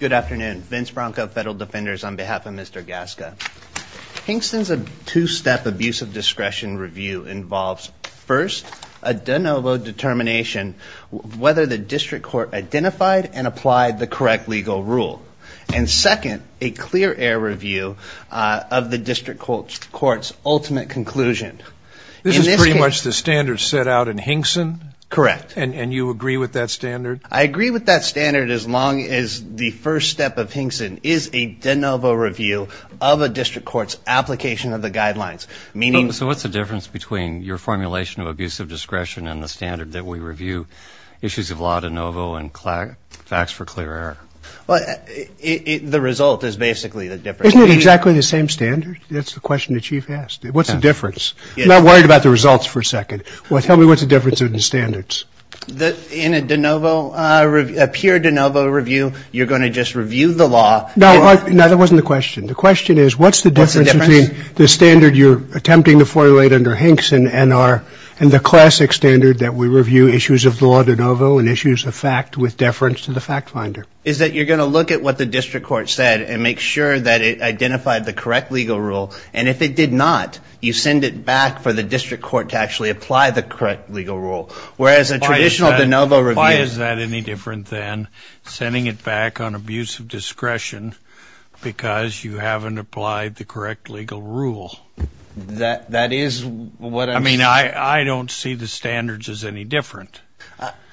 Good afternoon. Vince Bronco, Federal Defenders, on behalf of Mr. Gasca. Hingston's two-step abuse of discretion review involves, first, a de novo determination whether the district court identified and applied the correct legal rule, and second, a clear air review of the district court's ultimate conclusion. This is pretty much the standard set out in Hingston? Correct. And you agree with that standard? I agree with that standard as long as the first step of Hingston is a de novo review of a district court's application of the guidelines, meaning... So what's the difference between your formulation of abuse of discretion and the standard that we review, issues of law de novo and facts for clear air? The result is basically the difference. Isn't it exactly the same standard? That's the question the Chief asked. What's the difference? I'm not worried about the results for a second. Tell me what's the difference in the standards? In a de novo review, a pure de novo review, you're going to just review the law... No, that wasn't the question. The question is what's the difference between the standard you're attempting to formulate under Hingston and the classic standard that we review issues of law de novo and issues of fact with deference to the fact finder? Is that you're going to look at what the district court said and make sure that it identified the correct legal rule, and if it did not, you send it back for the district court to actually apply the correct legal rule, whereas a traditional de novo review... Why is that any different than sending it back on abuse of discretion because you haven't applied the correct legal rule? That is what I'm... I mean, I don't see the standards as any different.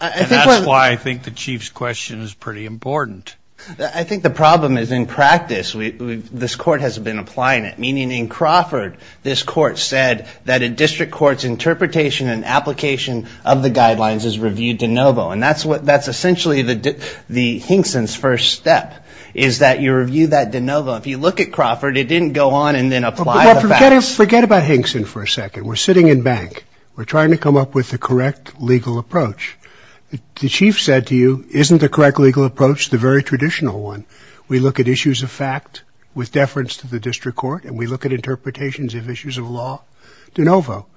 And that's why I think the Chief's question is pretty important. I think the problem is in practice, this court has been applying it, meaning in Crawford, this court said that a district court's interpretation and application of the guidelines is reviewed de novo. And that's essentially the Hingston's first step, is that you review that de novo. If you look at Crawford, it didn't go on and then apply the facts... Forget about Hingston for a second. We're sitting in bank. We're trying to come up with the correct legal approach. The Chief said to you, isn't the correct legal approach the very traditional one? We look at issues of fact with deference to the district court, and we look at interpretations of issues of law de novo.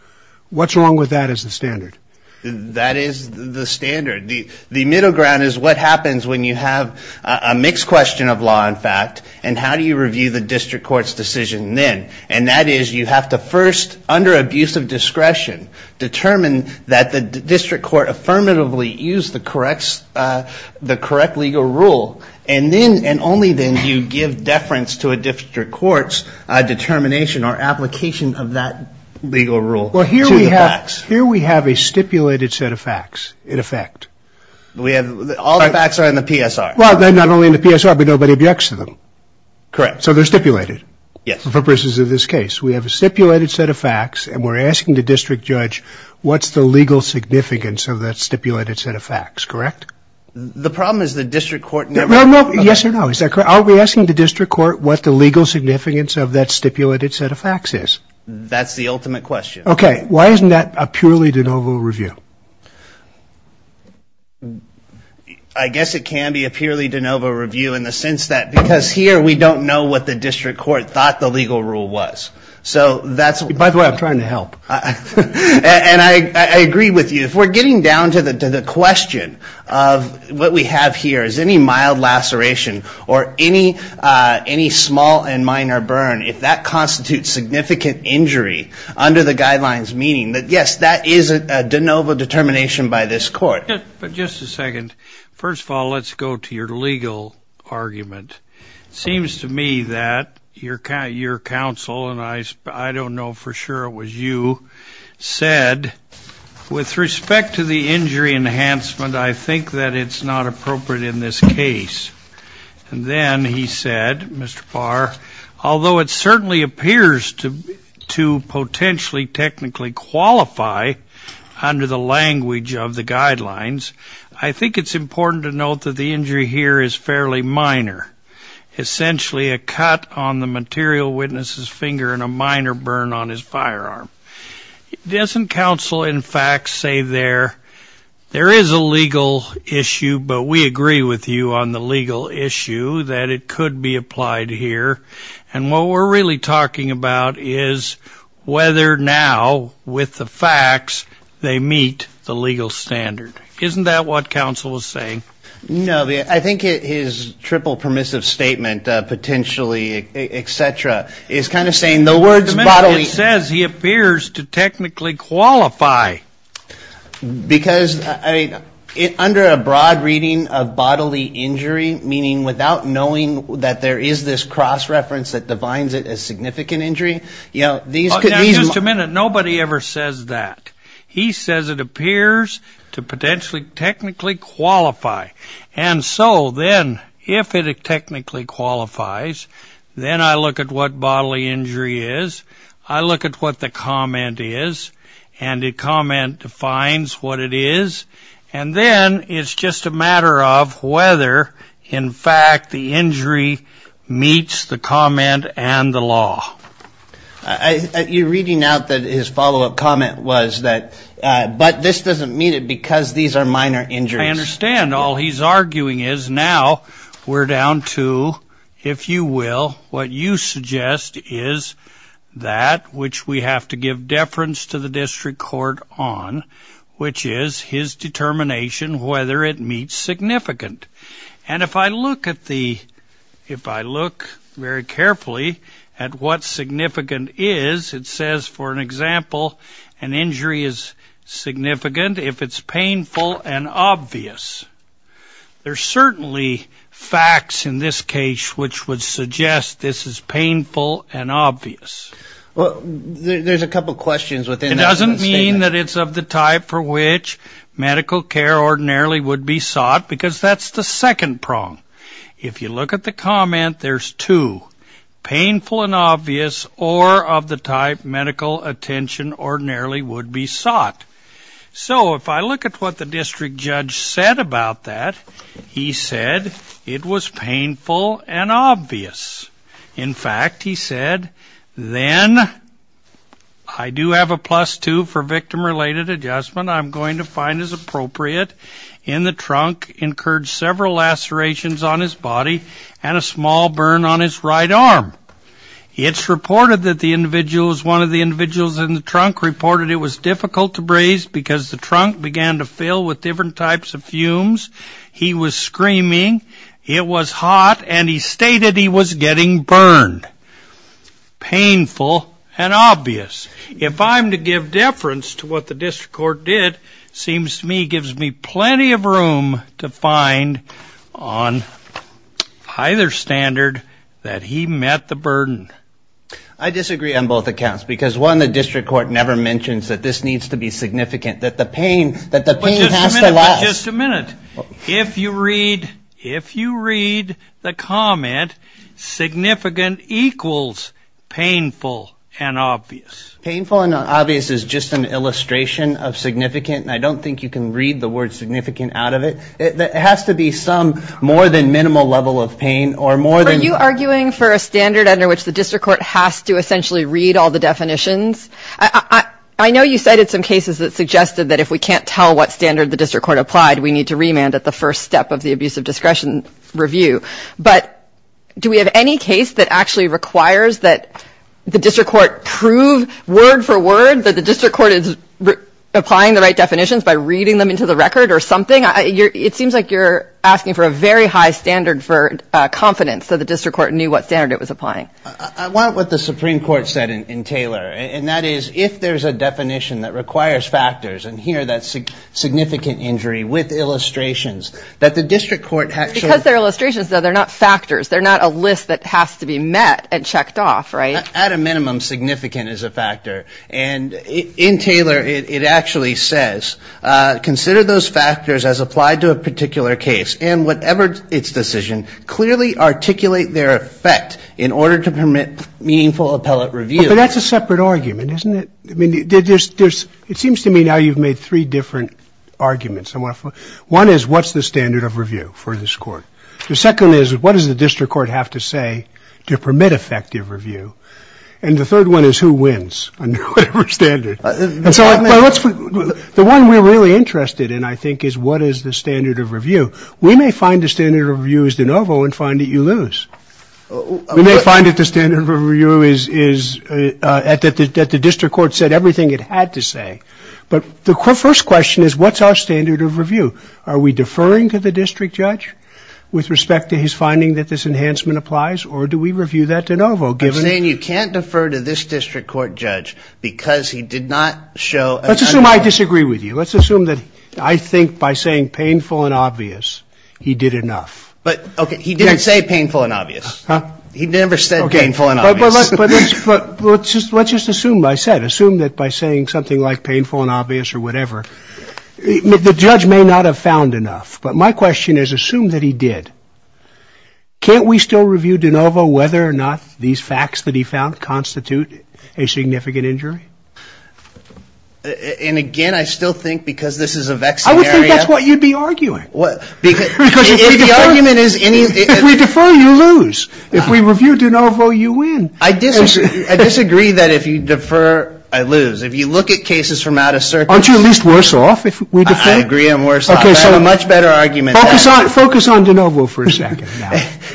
What's wrong with that as the standard? That is the standard. The middle ground is what happens when you have a mixed question of law and fact, and how do you review the district court's decision then? And that is you have to first, under abuse of discretion, determine that the district court affirmatively used the correct legal rule, and only then do you give deference to a district court's determination or application of that legal rule to the facts. Here we have a stipulated set of facts, in effect. All the facts are in the PSR. Well, they're not only in the PSR, but nobody objects to them. Correct. So they're stipulated. Yes. For purposes of this case, we have a stipulated set of facts, and we're asking the district judge, what's the legal significance of that stipulated set of facts, correct? The problem is the district court never... No, no. Yes or no. Is that correct? Are we asking the district court what the legal significance of that stipulated set of facts is? That's the ultimate question. Okay. Why isn't that a purely de novo review? I guess it can be a purely de novo review in the sense that, because here we don't know what the rule was. So that's... By the way, I'm trying to help. And I agree with you. If we're getting down to the question of what we have here, is any mild laceration or any small and minor burn, if that constitutes significant injury under the guidelines, meaning that, yes, that is a de novo determination by this court. But just a second. First of all, let's go to your legal argument. It seems to me that your counsel, and I don't know for sure it was you, said, with respect to the injury enhancement, I think that it's not appropriate in this case. And then he said, Mr. Parr, although it certainly appears to potentially technically qualify under the language of the guidelines, I think it's important to note that the injury here is fairly minor, essentially a cut on the material witness's finger and a minor burn on his firearm. Doesn't counsel, in fact, say there is a legal issue, but we agree with you on the legal issue that it could be applied here? And what we're really talking about is whether now with the facts they meet the legal standard. Isn't that what counsel was saying? No, I think his triple permissive statement, potentially, et cetera, is kind of saying the words bodily. It says he appears to technically qualify. Because under a broad reading of bodily injury, meaning without knowing that there is this cross reference that defines it as significant injury, you know, these could be. Just a minute. Nobody ever says that. He says it appears to technically qualify. And so then if it technically qualifies, then I look at what bodily injury is. I look at what the comment is. And the comment defines what it is. And then it's just a matter of whether, in fact, the injury meets the comment and the law. You're reading out that his follow I understand. All he's arguing is now we're down to, if you will, what you suggest is that which we have to give deference to the district court on, which is his determination whether it meets significant. And if I look at the if I look very carefully at what significant is, it says, for an example, an injury is significant if it's painful and obvious. There's certainly facts in this case which would suggest this is painful and obvious. Well, there's a couple of questions within that. It doesn't mean that it's of the type for which medical care ordinarily would be sought, because that's the second prong. If you look at the comment, there's two, painful and obvious or of the type medical attention ordinarily would be sought. So if I look at what the district judge said about that, he said it was painful and obvious. In fact, he said, then I do have a plus two for victim-related adjustment. I'm going to find as appropriate in the trunk incurred several lacerations on his body and a small burn on his right arm. It's reported that the individual is one of the individuals in the trunk reported it was difficult to breathe because the trunk began to fill with different types of fumes. He was screaming. It was hot. And he stated he was getting burned, painful and obvious. If I'm to give deference to what the district court did, seems to me gives me plenty of room to find on either standard that he met the burden. I disagree on both accounts, because one, the district court never mentions that this needs to be significant, that the pain has to last. But just a minute. If you read the comment, significant equals painful and obvious. Painful and obvious is just an illustration of significant. And I don't think you can read the word significant out of it. It has to be some more than minimal level of pain or more than. Are you arguing for a standard under which the district court has to essentially read all the definitions? I know you cited some cases that suggested that if we can't tell what standard the district court applied, we need to remand at the first step of the abuse of discretion review. But do we have any case that actually requires that the district court prove word for word that the district court is applying the right definitions by reading them into the record or something? It seems like you're asking for a very high standard for confidence that the district court knew what standard it was applying. I want what the Supreme Court said in Taylor, and that is if there's a definition that requires that the district court actually... Because they're illustrations, though, they're not factors. They're not a list that has to be met and checked off, right? At a minimum, significant is a factor. And in Taylor, it actually says, consider those factors as applied to a particular case and whatever its decision, clearly articulate their effect in order to permit meaningful appellate review. But that's a separate argument, isn't it? It seems to me now you've made three different arguments. One is, what's the standard of review for this court? The second is, what does the district court have to say to permit effective review? And the third one is, who wins under whatever standard? The one we're really interested in, I think, is what is the standard of review? We may find the standard of review is de novo and find that you lose. We may find that the standard of review is that the district court said everything it had to is what's our standard of review? Are we deferring to the district judge with respect to his finding that this enhancement applies, or do we review that de novo given... I'm saying you can't defer to this district court judge because he did not show... Let's assume I disagree with you. Let's assume that I think by saying painful and obvious, he did enough. But, okay, he didn't say painful and obvious. Huh? He never said painful and obvious. But let's just assume I said, assume that by saying something like painful and obvious or the judge may not have found enough. But my question is, assume that he did. Can't we still review de novo whether or not these facts that he found constitute a significant injury? And again, I still think because this is a vexing area... I would think that's what you'd be arguing. What? Because if the argument is... If we defer, you lose. If we review de novo, you win. I disagree. I disagree that if you defer, I lose. If you look at cases from out of circuit... Aren't you at least worse off if we defer? I agree I'm worse off. I have a much better argument. Focus on de novo for a second.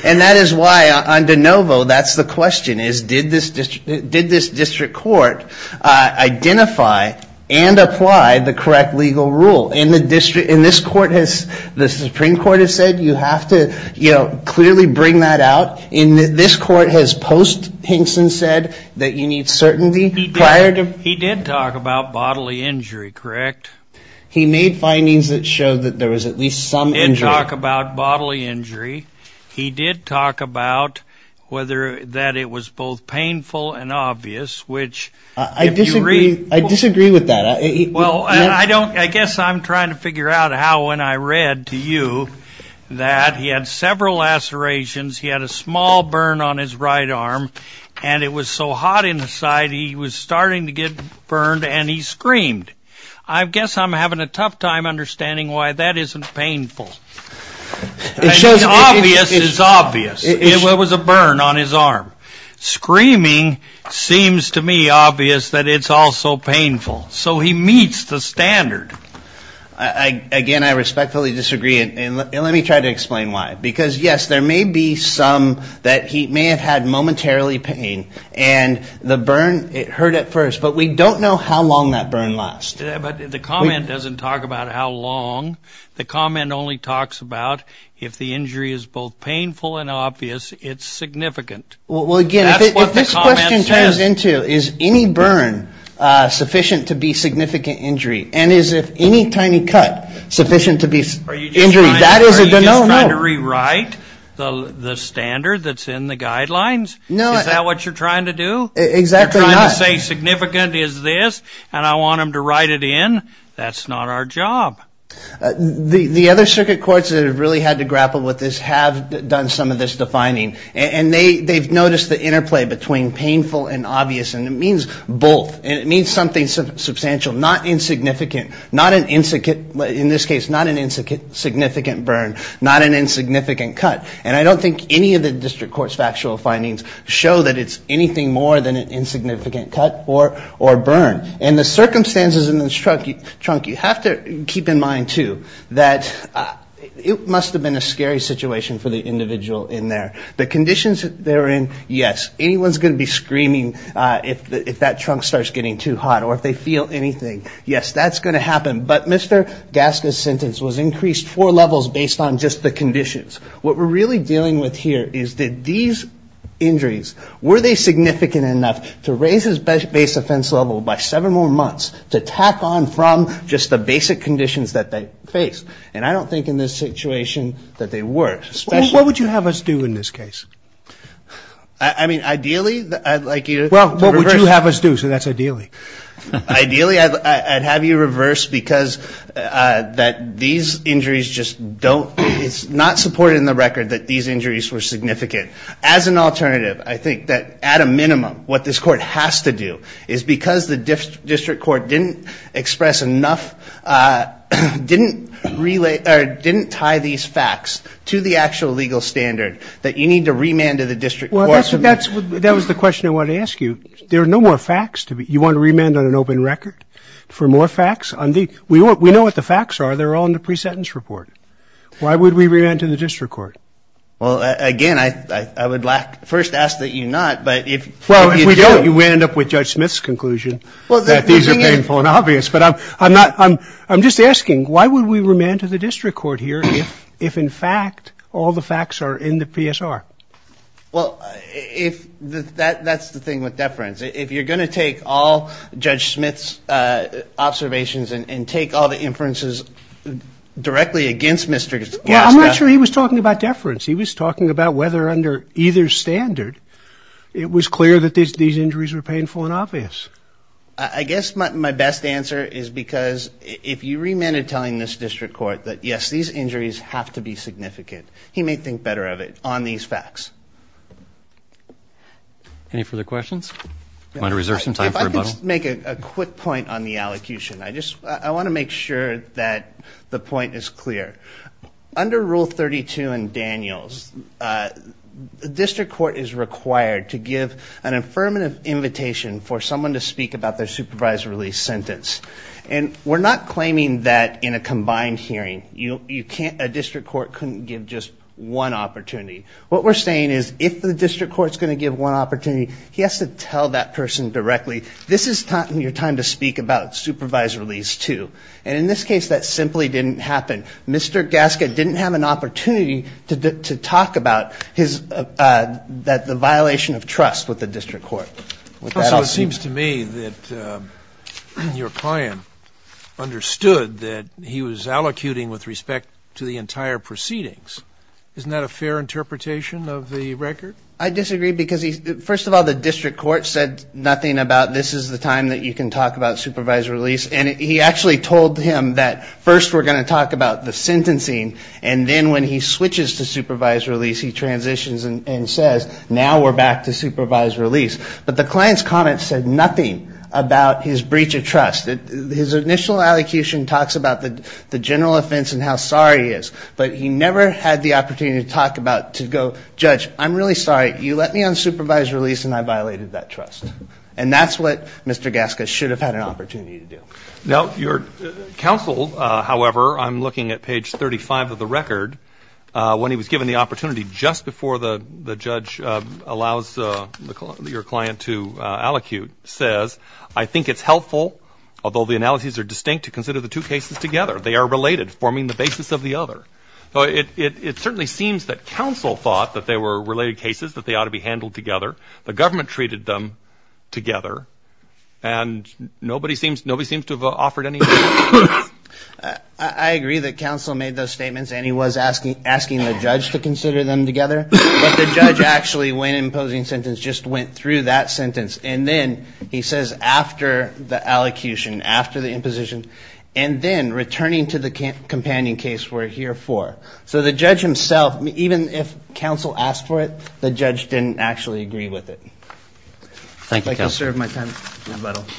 And that is why on de novo, that's the question is, did this district court identify and apply the correct legal rule? And the district... And this court has... The Supreme Court has said, you have to clearly bring that out. And this court has post Hinkson said that you need certainty prior to... Correct. He made findings that showed that there was at least some injury. He didn't talk about bodily injury. He did talk about whether that it was both painful and obvious, which... I disagree. I disagree with that. Well, I don't... I guess I'm trying to figure out how when I read to you that he had several lacerations. He had a small burn on his right arm and it was so hot inside. He was starting to get burned and he screamed. I guess I'm having a tough time understanding why that isn't painful. It shows... Obvious is obvious. It was a burn on his arm. Screaming seems to me obvious that it's also painful. So he meets the standard. Again, I respectfully disagree. And let me try to explain why. Because, yes, there may be some that he may have had momentarily pain and the burn it hurt at first, but we don't know how long that burn last. The comment doesn't talk about how long. The comment only talks about if the injury is both painful and obvious, it's significant. Well, again, if this question turns into is any burn sufficient to be significant injury and is if any tiny cut sufficient to be injury, that is a no-no. Are you just trying to rewrite the standard that's in the guidelines? No. Is that what you're trying to do? Exactly not. Say significant is this, and I want them to write it in. That's not our job. The other circuit courts that have really had to grapple with this have done some of this defining. And they've noticed the interplay between painful and obvious. And it means both. And it means something substantial, not insignificant. Not an in this case, not an insignificant burn. Not an insignificant cut. And I don't think any of the district court's factual findings show that it's anything more than an insignificant cut or burn. And the circumstances in this trunk, you have to keep in mind, too, that it must have been a scary situation for the individual in there. The conditions they're in, yes. Anyone's going to be screaming if that trunk starts getting too hot or if they feel anything. Yes, that's going to happen. But Mr. Gaske's sentence was increased four levels based on just the conditions. What we're really dealing with here is that these injuries, were they significant enough to raise his base offense level by seven more months to tack on from just the basic conditions that they faced? And I don't think in this situation that they were. Especially... What would you have us do in this case? I mean, ideally, I'd like you to... Well, what would you have us do? So that's ideally. Ideally, I'd have you reverse because these injuries just don't... We're in the record that these injuries were significant. As an alternative, I think that at a minimum, what this court has to do is because the district court didn't express enough, didn't tie these facts to the actual legal standard that you need to remand to the district court. Well, that was the question I wanted to ask you. There are no more facts. You want to remand on an open record for more facts? We know what the facts are. They're all in the pre-sentence report. Why would we remand to the district court? Well, again, I would first ask that you not, but if you do... Well, if we don't, you end up with Judge Smith's conclusion that these are painful and obvious. But I'm just asking, why would we remand to the district court here if, in fact, all the facts are in the PSR? Well, that's the thing with deference. If you're going to take all Judge Smith's observations and take all the inferences directly against Mr. Glaska... I'm not sure he was talking about deference. He was talking about whether under either standard, it was clear that these injuries were painful and obvious. I guess my best answer is because if you remanded telling this district court that, yes, these injuries have to be significant, he may think better of it on these facts. Any further questions? Do you want to reserve some time for rebuttal? If I could just make a quick point on the allocution. I want to make sure that the point is clear. Under Rule 32 in Daniels, the district court is required to give an affirmative invitation for someone to speak about their supervisory release sentence. We're not claiming that in a combined hearing, a district court couldn't give just one opportunity. What we're saying is, if the district court's going to give one opportunity, he has to tell that person directly, this is your time to speak about supervisory release too. And in this case, that simply didn't happen. Mr. Glaska didn't have an opportunity to talk about the violation of trust with the district court. So it seems to me that your client understood that he was allocuting with respect to the entire proceedings. Isn't that a fair interpretation of the record? I disagree. Because first of all, the district court said nothing about this is the time that you can talk about supervisory release. And he actually told him that first we're going to talk about the sentencing. And then when he switches to supervisory release, he transitions and says, now we're back to supervisory release. But the client's comment said nothing about his breach of trust. His initial allocution talks about the general offense and how sorry he is. But he never had the opportunity to talk about, to go, judge, I'm really sorry. You let me on supervised release and I violated that trust. And that's what Mr. Glaska should have had an opportunity to do. Now, your counsel, however, I'm looking at page 35 of the record, when he was given the opportunity just before the judge allows your client to allocute, says, I think it's helpful, although the analyses are distinct, to consider the two cases together. They are related, forming the basis of the other. So it certainly seems that counsel thought that they were related cases, that they ought to be handled together. The government treated them together. And nobody seems, nobody seems to have offered anything. I agree that counsel made those statements and he was asking, asking the judge to consider them together. But the judge actually, when imposing sentence, just went through that sentence. And then he says, after the allocution, after the imposition, and then returning to the companion case we're here for. So the judge himself, even if counsel asked for it, the judge didn't actually agree with it. Thank you, counsel. I think I'll serve my time.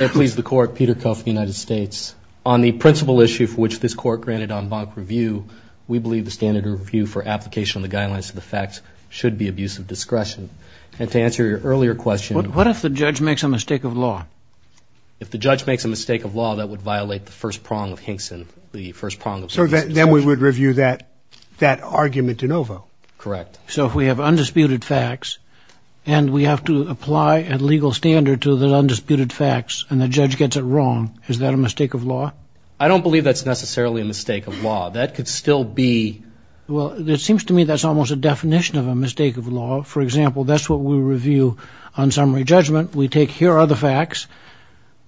I please the court, Peter Kuff, United States. On the principal issue for which this court granted en banc review, we believe the standard review for application of the guidelines to the facts should be abuse of discretion. And to answer your earlier question... What if the judge makes a mistake of law? If the judge makes a mistake of law, that would violate the first prong of Hinkson, the first prong of... So then we would review that argument de novo? Correct. So if we have undisputed facts and we have to apply a legal standard to the undisputed facts and the judge gets it wrong, is that a mistake of law? I don't believe that's necessarily a mistake of law. That could still be... Well, it seems to me that's almost a definition of a mistake of law. For example, that's what we review on summary judgment. We take here are the facts.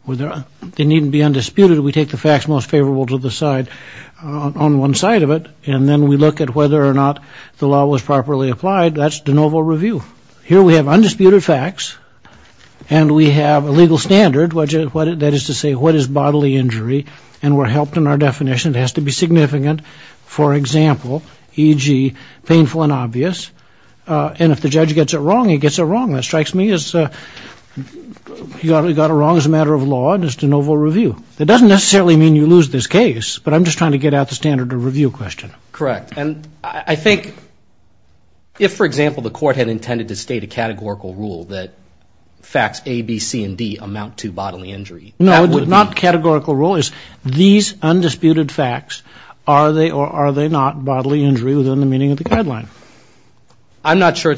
They needn't be undisputed. We take the facts most favorable to the side on one side of it. And then we look at whether or not the law was properly applied. That's de novo review. Here we have undisputed facts and we have a legal standard. That is to say, what is bodily injury? And we're helped in our definition. It has to be significant. For example, e.g., painful and obvious. And if the judge gets it wrong, he gets it wrong. That strikes me as... He got it wrong as a matter of law and it's de novo review. That doesn't necessarily mean you lose this case, but I'm just trying to get out the standard of review question. Correct. And I think if, for example, the court had intended to state a categorical rule that facts A, B, C, and D amount to bodily injury... No, it would not categorical rule. These undisputed facts, are they or are they not bodily injury within the meaning of the guideline? I'm not sure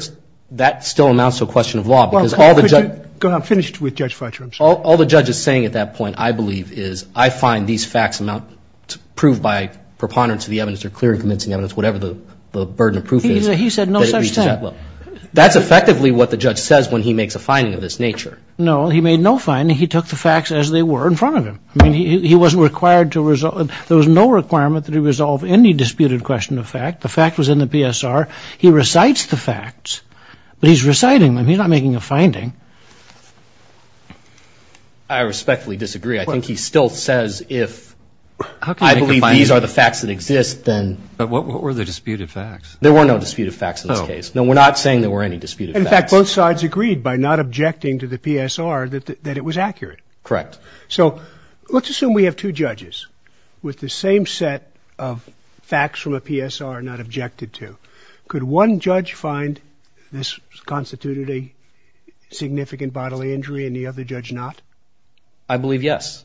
that still amounts to a question of law because all the judge... I'm finished with Judge Fletcher. All the judge is saying at that point, I believe, is I find these facts amount to prove by preponderance of the evidence or clear and convincing evidence, whatever the burden of proof is... He said no such thing. That's effectively what the judge says when he makes a finding of this nature. No, he made no finding. He took the facts as they were in front of him. I mean, he wasn't required to resolve... There was no requirement that he resolve any disputed question of fact. The fact was in the PSR. He recites the facts, but he's reciting them. He's not making a finding. I respectfully disagree. I think he still says if I believe these are the facts that exist, then... But what were the disputed facts? There were no disputed facts in this case. No, we're not saying there were any disputed facts. In fact, both sides agreed by not objecting to the PSR that it was accurate. Correct. So let's assume we have two judges with the same set of facts from a PSR not objected to. Could one judge find this constituted a significant bodily injury and the other judge not? I believe yes.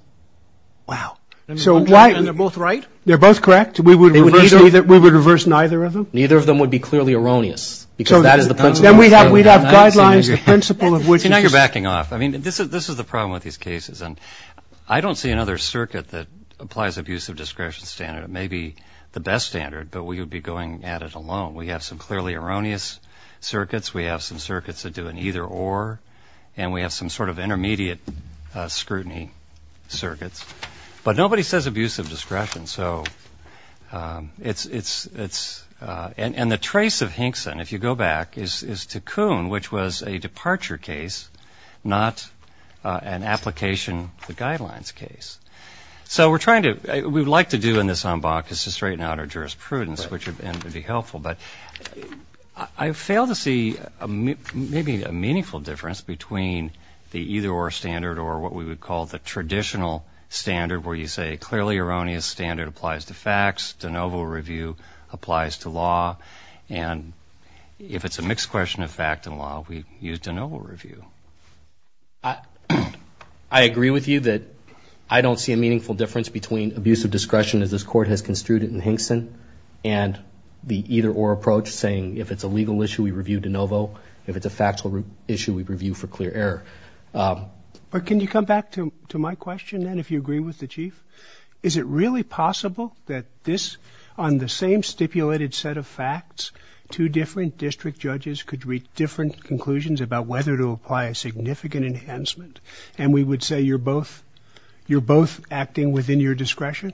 Wow. So why... And they're both right? They're both correct. We would reverse neither of them? Neither of them would be clearly erroneous because that is the principle. Then we'd have guidelines, the principle of which... You're backing off. I mean, this is the problem with these cases. I don't see another circuit that applies abusive discretion standard. It may be the best standard, but we would be going at it alone. We have some clearly erroneous circuits. We have some circuits that do an either or. And we have some sort of intermediate scrutiny circuits. But nobody says abusive discretion. So it's... And the trace of Hinkson, if you go back, is Taccoon, which was a departure case, not an application, the guidelines case. So we're trying to... We'd like to do in this en banc is to straighten out our jurisprudence, which would be helpful. But I fail to see maybe a meaningful difference between the either or standard or what we would call the traditional standard where you say clearly erroneous standard applies to facts, de novo review applies to law. And if it's a mixed question of fact and law, we use de novo review. I agree with you that I don't see a meaningful difference between abusive discretion as this court has construed it in Hinkson and the either or approach saying if it's a legal issue, we review de novo. If it's a factual issue, we review for clear error. But can you come back to my question, then, if you agree with the Chief? Is it really possible that this, on the same stipulated set of facts, two different district judges could reach different conclusions about whether to apply a significant enhancement? And we would say you're both acting within your discretion?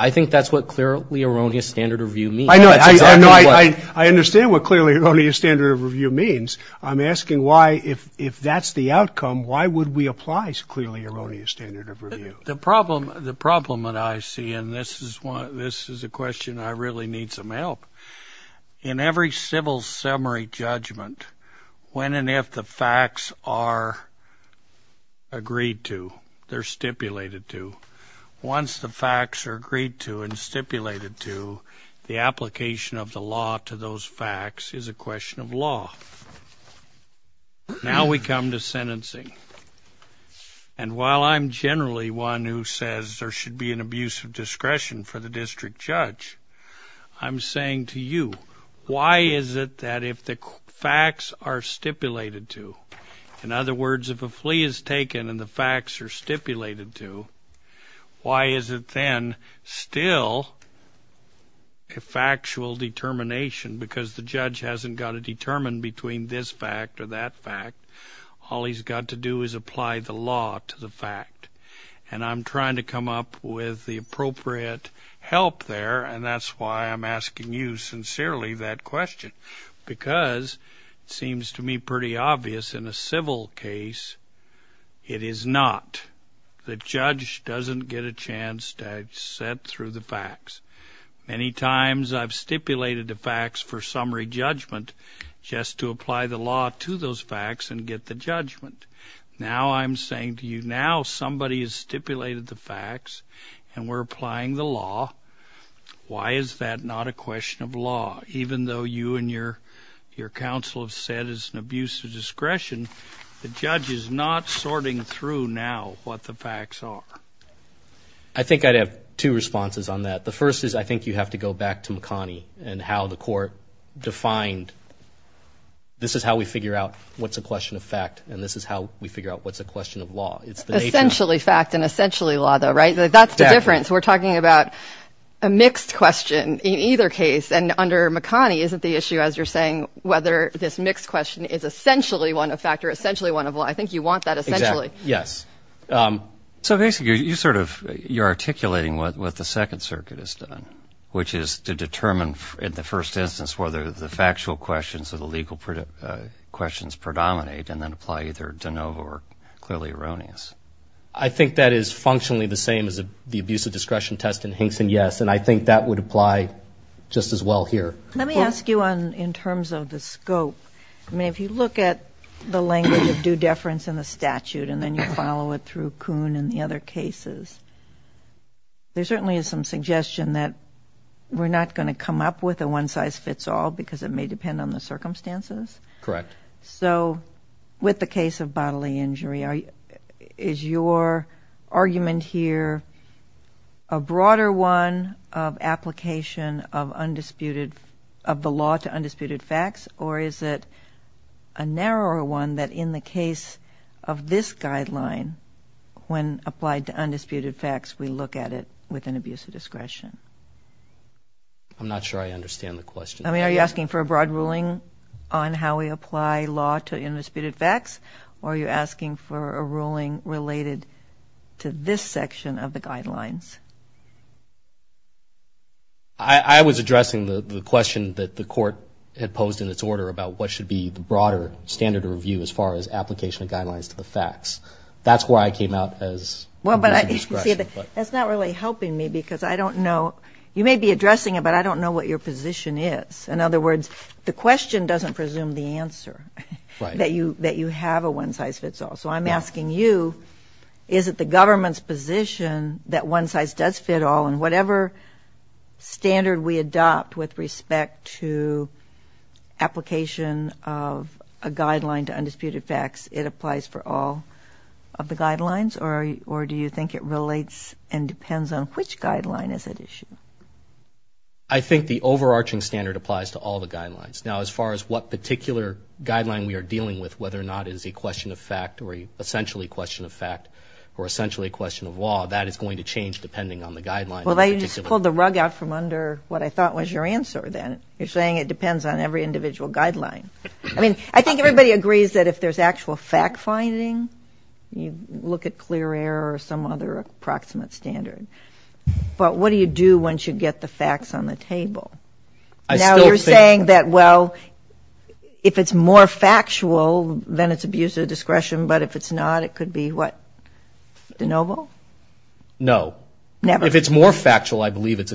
I think that's what clearly erroneous standard of review means. I know, I understand what clearly erroneous standard of review means. I'm asking why, if that's the outcome, why would we apply clearly erroneous standard of review? The problem that I see, and this is a question I really need some help. In every civil summary judgment, when and if the facts are agreed to, they're stipulated to, once the facts are agreed to and stipulated to, the application of the law to those facts is a question of law. Now we come to sentencing. And while I'm generally one who says there should be an abuse of discretion for the district judge, I'm saying to you, why is it that if the facts are stipulated to, in other words, if a flee is taken and the facts are stipulated to, why is it then still a factual determination? Because the judge hasn't got to determine between this fact or that fact. All he's got to do is apply the law to the fact. And I'm trying to come up with the appropriate help there. And that's why I'm asking you sincerely that question, because it seems to me pretty obvious in a civil case, it is not. The judge doesn't get a chance to set through the facts. Many times I've stipulated the facts for summary judgment just to apply the law to those facts and get the judgment. Now I'm saying to you, now somebody has stipulated the facts and we're applying the law. Why is that not a question of law? Even though you and your counsel have said it's an abuse of discretion, the judge is not sorting through now what the facts are. I think I'd have two responses on that. The first is I think you have to go back to McConnie and how the court defined, this is how we figure out what's a question of fact. And this is how we figure out what's a question of law. It's essentially fact and essentially law, though, right? That's the difference. We're talking about a mixed question in either case. And under McConnie, isn't the issue, as you're saying, whether this mixed question is essentially one of fact or essentially one of law? I think you want that essentially. Yes. So basically, you sort of you're articulating what the Second Circuit has done, which is to determine in the first instance whether the factual questions or the legal questions predominate and then apply either de novo or clearly erroneous. I think that is functionally the same as the abuse of discretion test in Hinkson, yes. And I think that would apply just as well here. Let me ask you in terms of the scope. I mean, if you look at the language of due deference in the statute and then you follow it through Coon and the other cases, there certainly is some suggestion that we're not going to come up with a one size fits all because it may depend on the circumstances. Correct. So with the case of bodily injury, is your argument here a broader one of application of undisputed of the law to undisputed facts? Or is it a narrower one that in the case of this guideline, when applied to undisputed facts, we look at it with an abuse of discretion? I'm not sure I understand the question. I mean, are you asking for a broad ruling on how we apply law to undisputed facts? Or are you asking for a ruling related to this section of the guidelines? I was addressing the question that the court had posed in its order about what should be the broader standard of review as far as application of guidelines to the facts. That's why I came out as with discretion. Well, but you see, that's not really helping me because I don't know. You may be addressing it, but I don't know what your position is. In other words, the question doesn't presume the answer that you have a one size fits all. So I'm asking you, is it the government's position that one size does fit all and whatever standard we adopt with respect to application of a guideline to undisputed facts, it applies for all of the guidelines? Or do you think it relates and depends on which guideline is at issue? I think the overarching standard applies to all the guidelines. Now, as far as what particular guideline we are dealing with, whether or not is a question of fact or essentially a question of fact or essentially a question of law, that is going to change depending on the guideline. Well, then you just pulled the rug out from under what I thought was your answer then. You're saying it depends on every individual guideline. I mean, I think everybody agrees that if there's actual fact finding, you look at clear error or some other approximate standard. Now, you're saying that, well, if it's more factual, then it's abuse of discretion, but if it's not, it could be what? De novo? No. If it's more factual, I believe it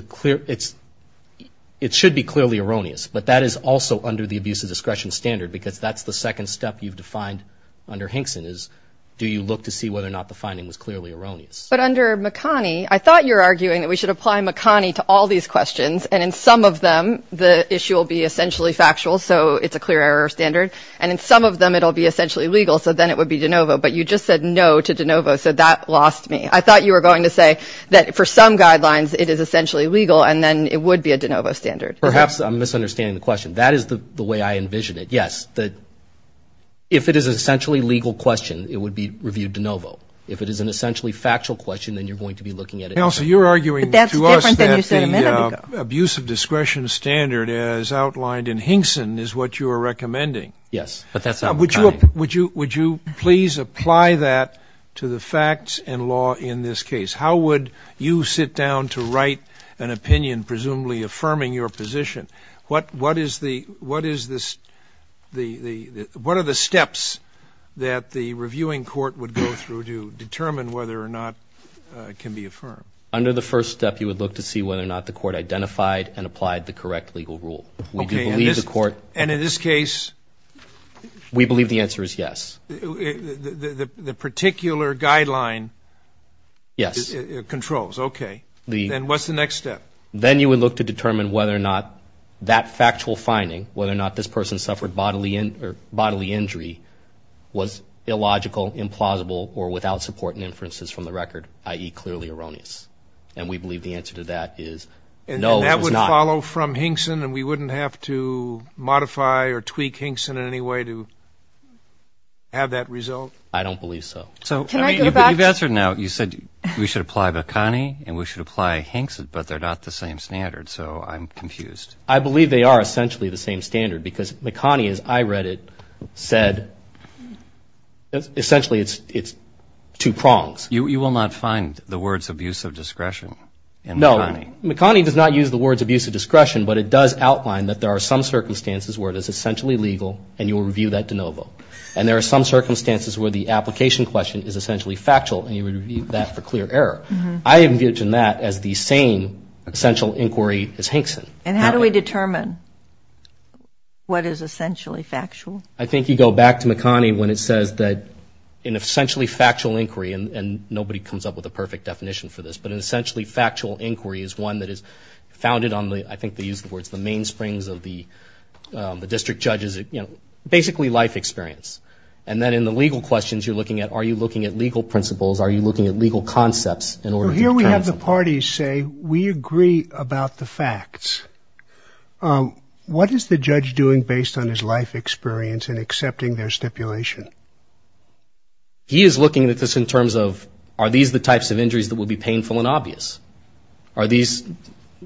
should be clearly erroneous, but that is also under the abuse of discretion standard because that's the second step you've defined under Hinkson is do you look to see whether or not the finding was clearly erroneous? But under McConney, I thought you were arguing that we should apply McConney to all these questions. And in some of them, the issue will be essentially factual. So it's a clear error standard. And in some of them, it'll be essentially legal. So then it would be de novo. But you just said no to de novo. So that lost me. I thought you were going to say that for some guidelines, it is essentially legal. And then it would be a de novo standard. Perhaps I'm misunderstanding the question. That is the way I envision it. Yes, that if it is essentially legal question, it would be reviewed de novo. If it is an essentially factual question, then you're going to be looking at it. So you're arguing to us that the abuse of discretion standard, as outlined in Hinkson, is what you are recommending. Yes, but that's not McConney. Would you please apply that to the facts and law in this case? How would you sit down to write an opinion presumably affirming your position? What are the steps that the reviewing court would go through to determine whether or not can be affirmed? Under the first step, you would look to see whether or not the court identified and applied the correct legal rule. We do believe the court... And in this case... We believe the answer is yes. The particular guideline... Yes. ...controls. Okay. Then what's the next step? Then you would look to determine whether or not that factual finding, whether or not this person suffered bodily injury was illogical, implausible, or without support and inferences from the record. I.e. clearly erroneous. And we believe the answer to that is no, it was not. And that would follow from Hinkson, and we wouldn't have to modify or tweak Hinkson in any way to have that result? I don't believe so. So... Can I go back? You've answered now. You said we should apply McConney and we should apply Hinkson, but they're not the same standard. So I'm confused. I believe they are essentially the same standard because McConney, as I read it, said... Essentially, it's two prongs. You will not find the words abuse of discretion in McConney? No. McConney does not use the words abuse of discretion, but it does outline that there are some circumstances where it is essentially legal, and you will review that de novo. And there are some circumstances where the application question is essentially factual, and you would review that for clear error. I envision that as the same essential inquiry as Hinkson. And how do we determine what is essentially factual? I think you go back to McConney when it says that an essentially factual inquiry, and nobody comes up with a perfect definition for this, but an essentially factual inquiry is one that is founded on the, I think they use the words, the mainsprings of the district judges, basically life experience. And then in the legal questions, you're looking at, are you looking at legal principles? Are you looking at legal concepts? What is the judge doing based on his life experience in accepting their stipulation? He is looking at this in terms of, are these the types of injuries that would be painful and obvious? Are these,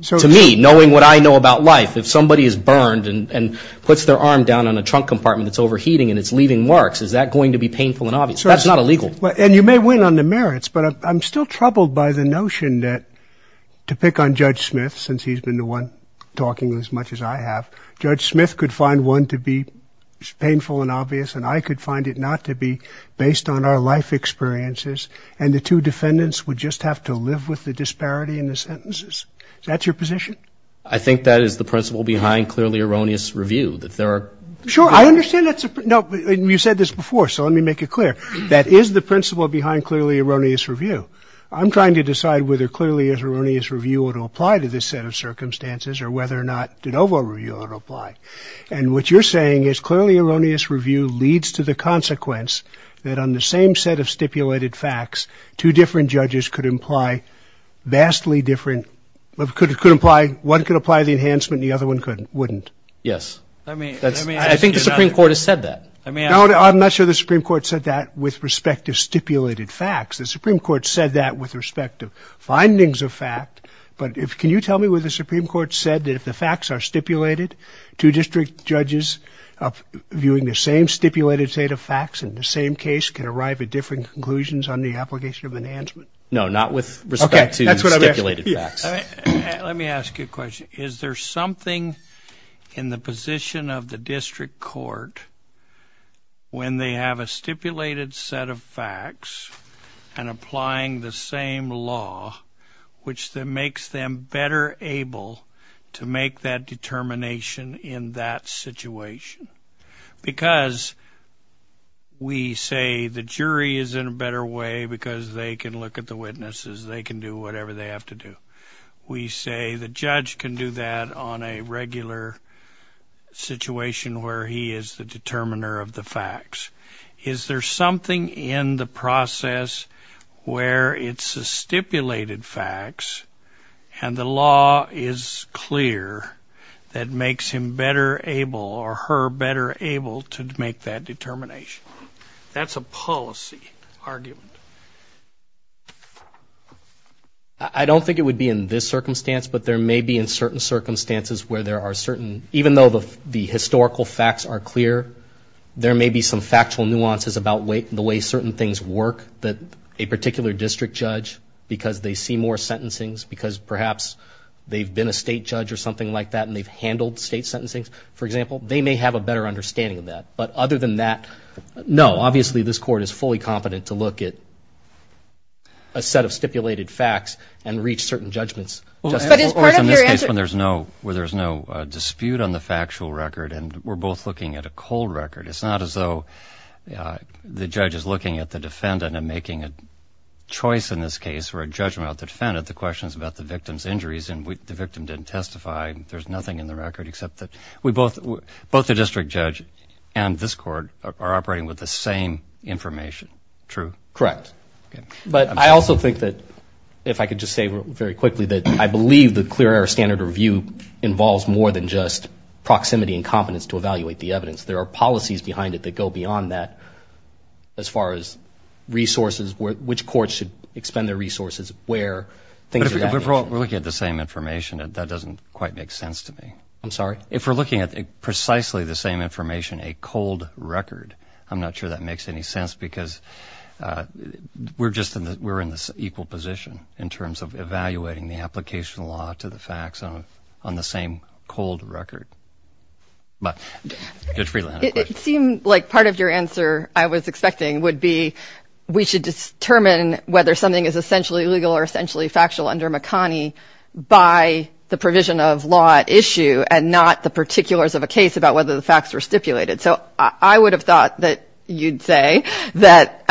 to me, knowing what I know about life, if somebody is burned and puts their arm down on a trunk compartment that's overheating and it's leaving marks, is that going to be painful and obvious? That's not illegal. And you may win on the merits, but I'm still troubled by the notion that, to pick on Judge Smith, talking as much as I have, Judge Smith could find one to be painful and obvious, and I could find it not to be, based on our life experiences, and the two defendants would just have to live with the disparity in the sentences. Is that your position? I think that is the principle behind clearly erroneous review, that there are... Sure, I understand that's a... No, you said this before, so let me make it clear. That is the principle behind clearly erroneous review. I'm trying to decide whether clearly erroneous review would apply to this set of circumstances or whether or not de novo review would apply. And what you're saying is clearly erroneous review leads to the consequence that, on the same set of stipulated facts, two different judges could imply vastly different... One could apply the enhancement and the other one wouldn't. Yes. I think the Supreme Court has said that. No, I'm not sure the Supreme Court said that with respect to stipulated facts. The Supreme Court said that with respect to findings of fact, but can you tell me what the Supreme Court said that if the facts are stipulated, two district judges viewing the same stipulated set of facts in the same case can arrive at different conclusions on the application of enhancement? No, not with respect to stipulated facts. Let me ask you a question. Is there something in the position of the district court when they have a stipulated set of facts and applying the same law, which then makes them better able to make that determination in that situation? Because we say the jury is in a better way because they can look at the witnesses, they can do whatever they have to do. We say the judge can do that on a regular situation where he is the determiner of the facts. Is there something in the process where it's a stipulated facts and the law is clear that makes him better able or her better able to make that determination? That's a policy argument. I don't think it would be in this circumstance, but there may be in certain circumstances where there are certain, even though the historical facts are clear, there may be some factual nuances about the way certain things work that a particular district judge, because they see more sentencing, because perhaps they've been a state judge or something like that and they've handled state sentencing, for example, they may have a better understanding of that. But other than that, no. Obviously, this court is fully competent to look at a set of stipulated facts and reach certain judgments. Or in this case where there's no dispute on the factual record and we're both looking at a cold record. It's not as though the judge is looking at the defendant and making a choice in this case or a judgment about the defendant. The question is about the victim's injuries and the victim didn't testify. There's nothing in the record except that we both, both the district judge and this court are operating with the same information. True? Correct. But I also think that if I could just say very quickly that I believe the clear air standard review involves more than just proximity and competence to evaluate the evidence. There are policies behind it that go beyond that as far as resources, which courts should expend their resources, where. But if we're looking at the same information, that doesn't quite make sense to me. I'm sorry? If we're looking at precisely the same information, a cold record, I'm not sure that makes any sense because we're just in the, we're in this equal position in terms of evaluating the application law to the facts on the same cold record. But it seemed like part of your answer I was expecting would be, we should determine whether something is essentially legal or essentially factual under Makani by the provision of law at issue and not the particulars of a case about whether the facts were stipulated. So I would have thought that you'd say that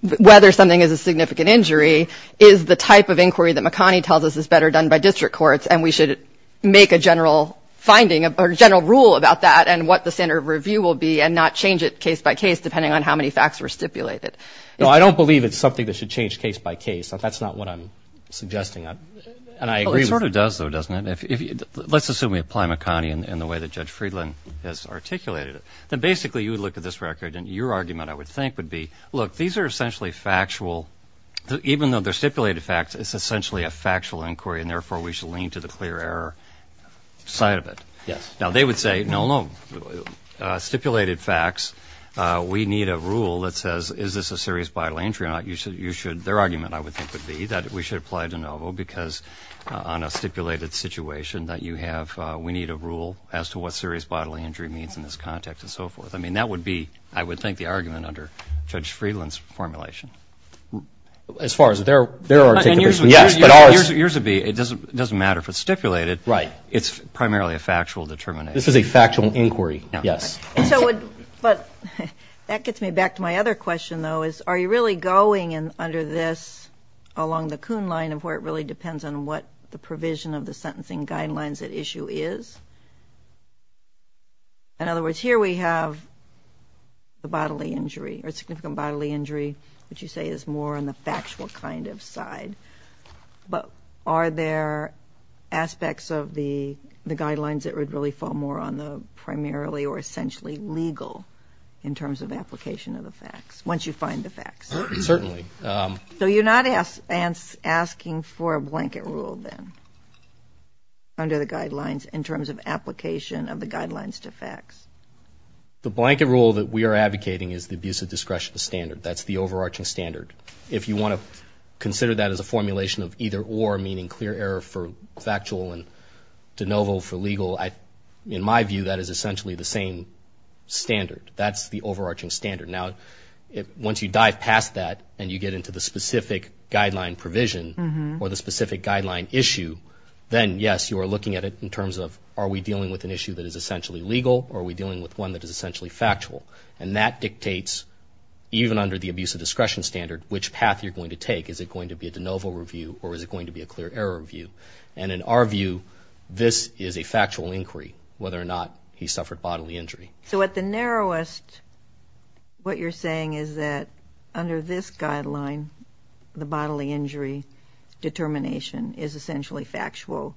whether something is a significant injury is the type of inquiry that Makani tells us is better done by district courts. And we should make a general finding or general rule about that and what the standard review will be and not change it case by case, depending on how many facts were stipulated. No, I don't believe it's something that should change case by case. That's not what I'm suggesting. And I agree. It sort of does, though, doesn't it? Let's assume we apply Makani in the way that Judge Friedland has articulated it. Then basically, you would look at this record and your argument, I would think, would be, look, these are essentially factual. Even though they're stipulated facts, it's essentially a factual inquiry. And therefore, we should lean to the clear error side of it. Yes. Now, they would say, no, no. Stipulated facts, we need a rule that says, is this a serious bodily injury or not? You should, you should, their argument, I would think, would be that we should apply de novo because on a stipulated situation that you have, we need a rule as to what serious bodily injury means in this context and so forth. I mean, that would be, I would think, the argument under Judge Friedland's formulation. As far as their, their articulation. Yours would be, it doesn't matter if it's stipulated. Right. It's primarily a factual determination. This is a factual inquiry. Yes. But that gets me back to my other question, though, is are you really going under this along the Kuhn line of where it really depends on what the provision of the sentencing guidelines at issue is? In other words, here we have the bodily injury or significant bodily injury, which you say is more on the factual kind of side, but are there aspects of the guidelines that would really fall more on the primarily or essentially legal in terms of application of the facts once you find the facts? Certainly. So you're not asking for a blanket rule then under the guidelines in terms of application of the guidelines to facts? The blanket rule that we are advocating is the abuse of discretion standard. That's the overarching standard. If you want to consider that as a formulation of either or, meaning clear error for factual and de novo for legal, in my view, that is essentially the same standard. That's the overarching standard. Now, once you dive past that and you get into the specific guideline provision or the specific guideline issue, then yes, you are looking at it in terms of are we dealing with an issue that is essentially legal or are we dealing with one that is essentially factual? And that dictates, even under the abuse of discretion standard, which path you're going to take. Is it going to be a de novo review or is it going to be a clear error review? And in our view, this is a factual inquiry, whether or not he suffered bodily injury. So at the narrowest, what you're saying is that under this guideline, the bodily injury determination is essentially factual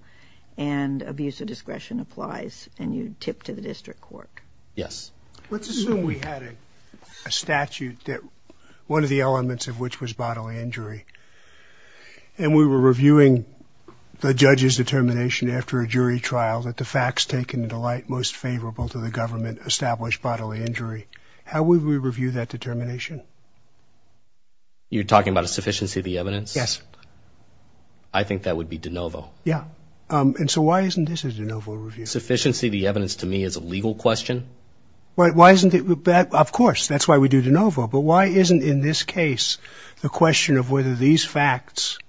and abuse of discretion applies and you tip to the district court? Yes. Let's assume we had a statute that one of the elements of which was bodily injury and we were reviewing the judge's determination after a jury trial that the facts taken into light most favorable to the government established bodily injury. How would we review that determination? You're talking about a sufficiency of the evidence? Yes. I think that would be de novo. Yeah. And so why isn't this a de novo review? Sufficiency of the evidence to me is a legal question. Why isn't it? Of course, that's why we do de novo. But why isn't, in this case, the question of whether these facts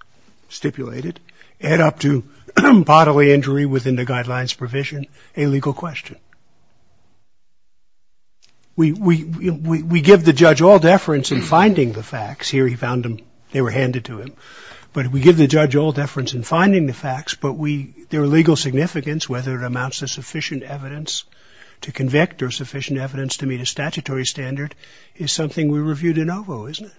stipulated add up to bodily injury within the guidelines provision a legal question? We give the judge all deference in finding the facts. Here he found them. They were handed to him. But we give the judge all deference in finding the facts. Their legal significance, whether it amounts to sufficient evidence to convict or sufficient evidence to meet a statutory standard, is something we review de novo, isn't it?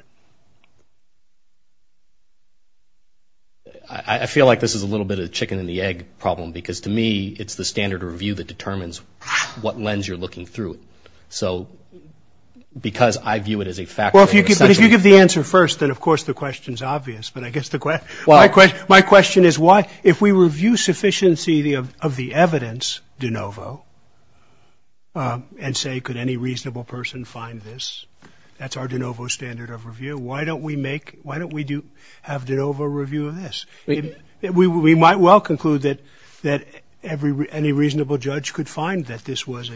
I feel like this is a little bit of a chicken and the egg problem because, to me, it's the standard of review that determines what lens you're looking through. So because I view it as a fact that essentially— But if you give the answer first, then, of course, the question's obvious. But I guess my question is, if we review sufficiency of the evidence de novo and say, could any reasonable person find this? That's our de novo standard of review. Why don't we have de novo review of this? We might well conclude that any reasonable judge could find that this was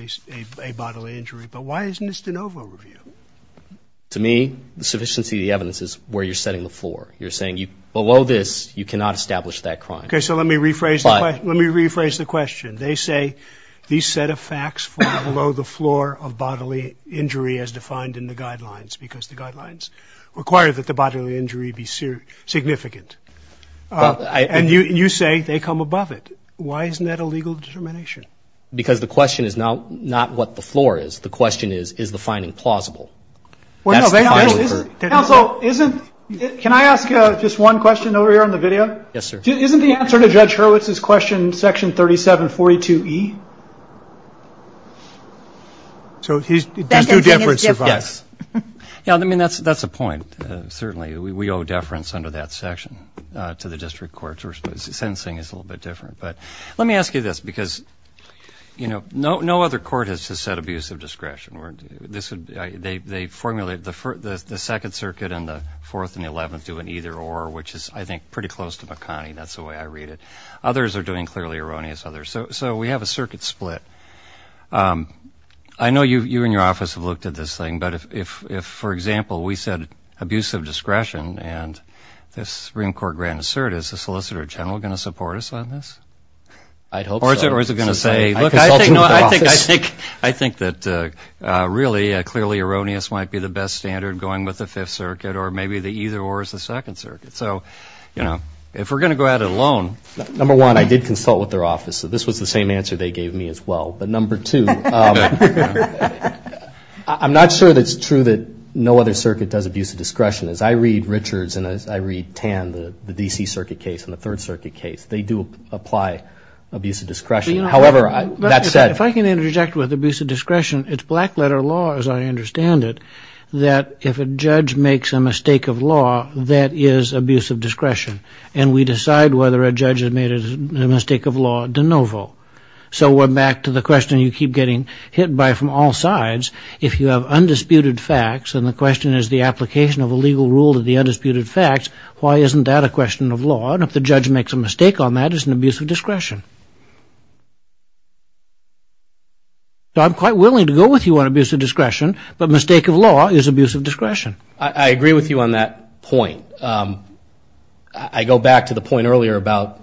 a bodily injury. But why isn't this de novo review? To me, the sufficiency of the evidence is where you're setting the floor. You're saying below this, you cannot establish that crime. Okay. So let me rephrase the question. They say these set of facts fall below the floor of bodily injury as defined in the guidelines because the guidelines require that the bodily injury be significant. And you say they come above it. Why isn't that a legal determination? Because the question is not what the floor is. The question is, is the finding plausible? Well, no. Counsel, can I ask just one question over here on the video? Yes, sir. Isn't the answer to Judge Hurwitz's question section 3742E? So he's due deference. Yes. Yeah, I mean, that's a point, certainly. We owe deference under that section to the district courts. Sentencing is a little bit different. But let me ask you this, because no other court has just said abuse of discretion. This would be, they formulate the second circuit and the fourth and the 11th do an either or, which is, I think, pretty close to McConney. That's the way I read it. Others are doing clearly erroneous others. So we have a circuit split. I know you and your office have looked at this thing. But if, for example, we said abuse of discretion and this Supreme Court grant assert, is the Solicitor General going to support us on this? I'd hope so. Or is it going to say, look, I think, no, I think, I think, really, clearly erroneous might be the best standard going with the fifth circuit. Or maybe the either or is the second circuit. So if we're going to go at it alone. Number one, I did consult with their office. So this was the same answer they gave me as well. But number two, I'm not sure that it's true that no other circuit does abuse of discretion. As I read Richards and as I read Tan, the D.C. circuit case and the third circuit case, they do apply abuse of discretion. However, that said. If I can interject with abuse of discretion, it's black letter law, as I understand it, that if a judge makes a mistake of law, that is abuse of discretion. And we decide whether a judge has made a mistake of law de novo. So we're back to the question you keep getting hit by from all sides. If you have undisputed facts and the question is the application of a legal rule to the undisputed facts, why isn't that a question of law? And if the judge makes a mistake on that, it's an abuse of discretion. I'm quite willing to go with you on abuse of discretion. But mistake of law is abuse of discretion. I agree with you on that point. I go back to the point earlier about,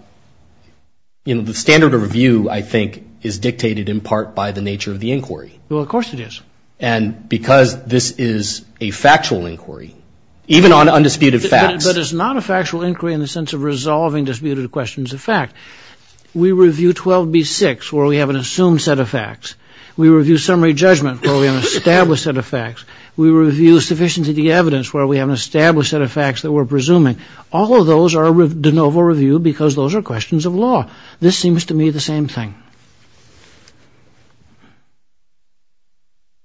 you know, the standard of review, I think, is dictated in part by the nature of the inquiry. Well, of course it is. And because this is a factual inquiry, even on undisputed facts. But it's not a factual inquiry in the sense of resolving disputed questions of fact. We review 12B6 where we have an assumed set of facts. We review summary judgment where we have an established set of facts. We review sufficiency of the evidence where we have an established set of facts that we're presuming. All of those are de novo review because those are questions of law. This seems to me the same thing.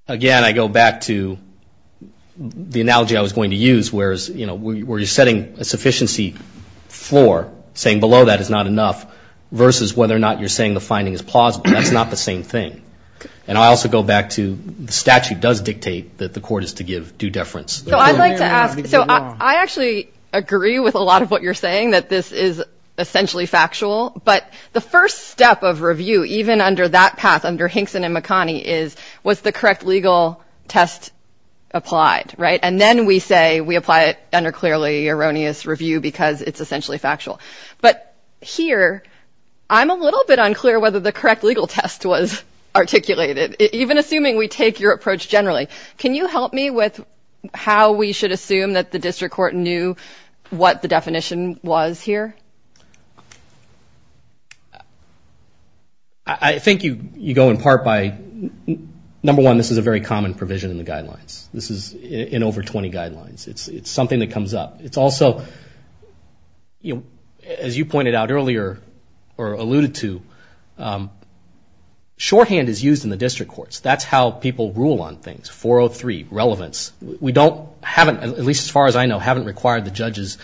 Again, I go back to the analogy I was going to use, whereas, you know, where you're setting a sufficiency floor, saying below that is not enough, versus whether or not you're saying the finding is plausible. That's not the same thing. And I also go back to the statute does dictate that the court is to give due deference. So I'd like to ask, so I actually agree with a lot of what you're saying, that this is essentially factual. But the first step of review, even under that path, under Hinkson and McConnie, is was the correct legal test applied, right? And then we say we apply it under clearly erroneous review because it's essentially factual. But here, I'm a little bit unclear whether the correct legal test was articulated, even assuming we take your approach generally. Can you help me with how we should assume that the district court knew what the definition was here? I think you go in part by, number one, this is a very common provision in the guidelines. This is in over 20 guidelines. It's something that comes up. It's also, as you pointed out earlier, or alluded to, shorthand is used in the district courts. That's how people rule on things. 403, relevance. We don't, at least as far as I know, haven't required the judges,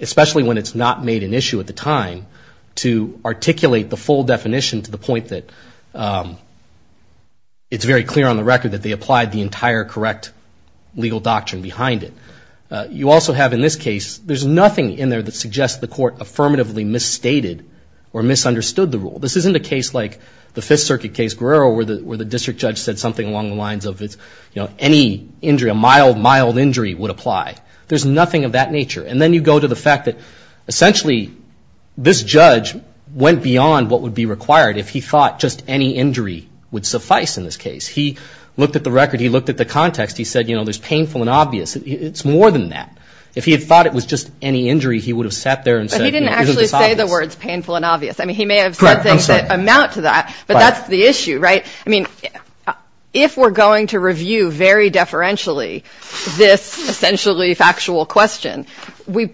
especially when it's not made an issue at the time, to articulate the full definition to the point that it's very clear on the record that they applied the entire correct legal doctrine behind it. You also have in this case, there's nothing in there that suggests the court affirmatively misstated or misunderstood the rule. This isn't a case like the Fifth Circuit case, Guerrero, where the district judge said something along the lines of any injury, a mild, mild injury would apply. There's nothing of that nature. And then you go to the fact that essentially this judge went beyond what would be required if he thought just any injury would suffice in this case. He looked at the record. He looked at the context. He said, you know, there's painful and obvious. It's more than that. If he had thought it was just any injury, he would have sat there and said, you know, it's obvious. But he didn't actually say the words painful and obvious. I mean, he may have said things that amount to that. But that's the issue, right? I mean, if we're going to review very deferentially this essentially factual question, we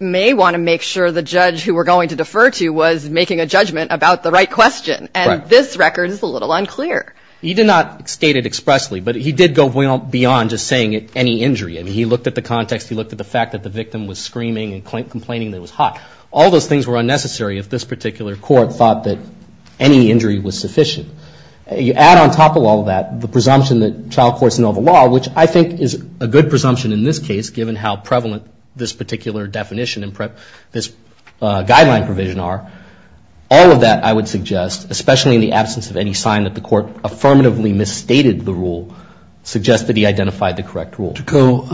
may want to make sure the judge who we're going to defer to was making a judgment about the right question. And this record is a little unclear. He did not state it expressly. But he did go beyond just saying any injury. I mean, he looked at the context. He looked at the fact that the victim was screaming and complaining that it was hot. All those things were unnecessary if this particular court thought that any injury was sufficient. You add on top of all that the presumption that child courts know the law, which I think is a good presumption in this case given how prevalent this particular definition and this guideline provision are. All of that, I would suggest, especially in the absence of any sign that the court affirmatively misstated the rule, suggest that he identified the correct rule. Mr. Coe,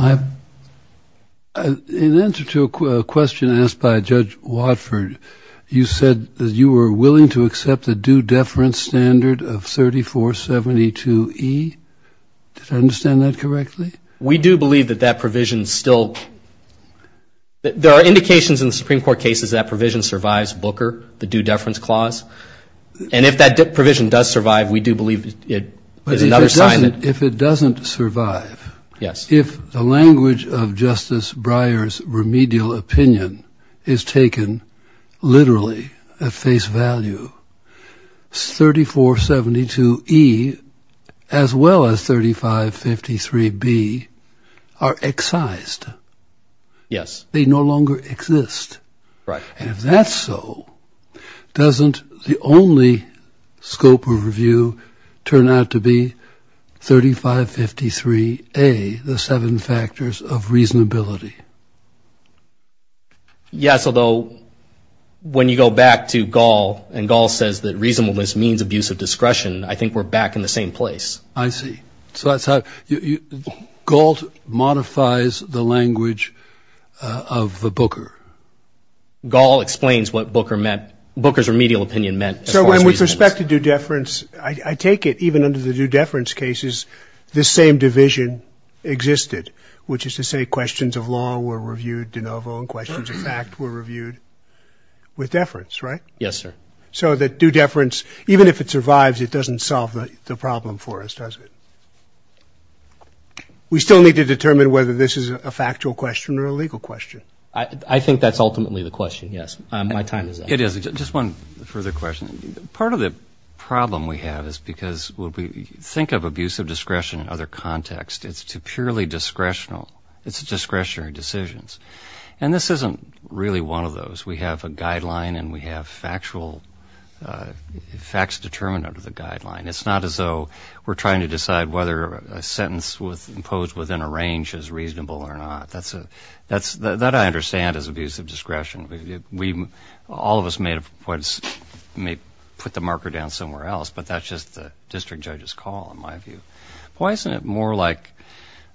in answer to a question asked by Judge Watford, you said that you were willing to accept the due deference standard of 3472E. Did I understand that correctly? We do believe that that provision still – there are indications in the Supreme Court cases that that provision survives Booker, the due deference clause. And if that provision does survive, we do believe it is another sign that – If it doesn't survive, if the language of Justice Breyer's remedial opinion is taken literally at face value, 3472E as well as 3553B are excised. Yes. They no longer exist. Right. And if that's so, doesn't the only scope of review turn out to be 3553A, the seven factors of reasonability? Yes, although when you go back to Gall and Gall says that reasonableness means abuse of discretion, I think we're back in the same place. I see. So that's how – Gall modifies the language of the Booker. Gall explains what Booker meant – Booker's remedial opinion meant as far as reasonableness. So when with respect to due deference, I take it even under the due deference cases, this same division existed, which is to say questions of law were reviewed de novo and questions of fact were reviewed with deference, right? Yes, sir. So that due deference, even if it survives, it doesn't solve the problem for us, does it? Right. We still need to determine whether this is a factual question or a legal question. I think that's ultimately the question, yes. My time is up. It is. Just one further question. Part of the problem we have is because when we think of abuse of discretion in other contexts, it's purely discretional. It's discretionary decisions. And this isn't really one of those. We have a guideline and we have factual – facts determined under the guideline. It's not as though we're trying to decide whether a sentence imposed within a range is reasonable or not. That's a – that I understand as abuse of discretion. All of us may put the marker down somewhere else, but that's just the district judge's call in my view. Why isn't it more like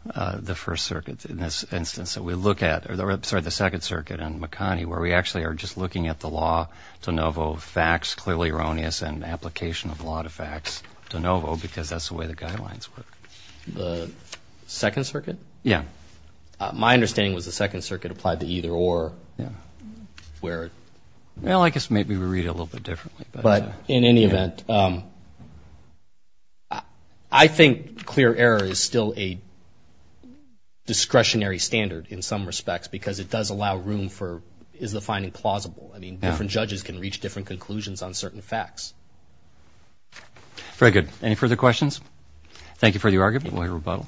the First Circuit in this instance that we look at – or sorry, the Second Circuit and McConnie, where we actually are just looking at the law de novo, facts clearly erroneous and application of law to facts de novo, because that's the way the guidelines work? The Second Circuit? Yeah. My understanding was the Second Circuit applied to either or. Yeah. Where? Well, I guess maybe we read it a little bit differently. But in any event, I think clear error is still a discretionary standard in some respects because it does allow room for is the finding plausible? I mean, different judges can reach different conclusions on certain facts. Very good. Any further questions? Thank you for the argument. We'll hear rebuttal.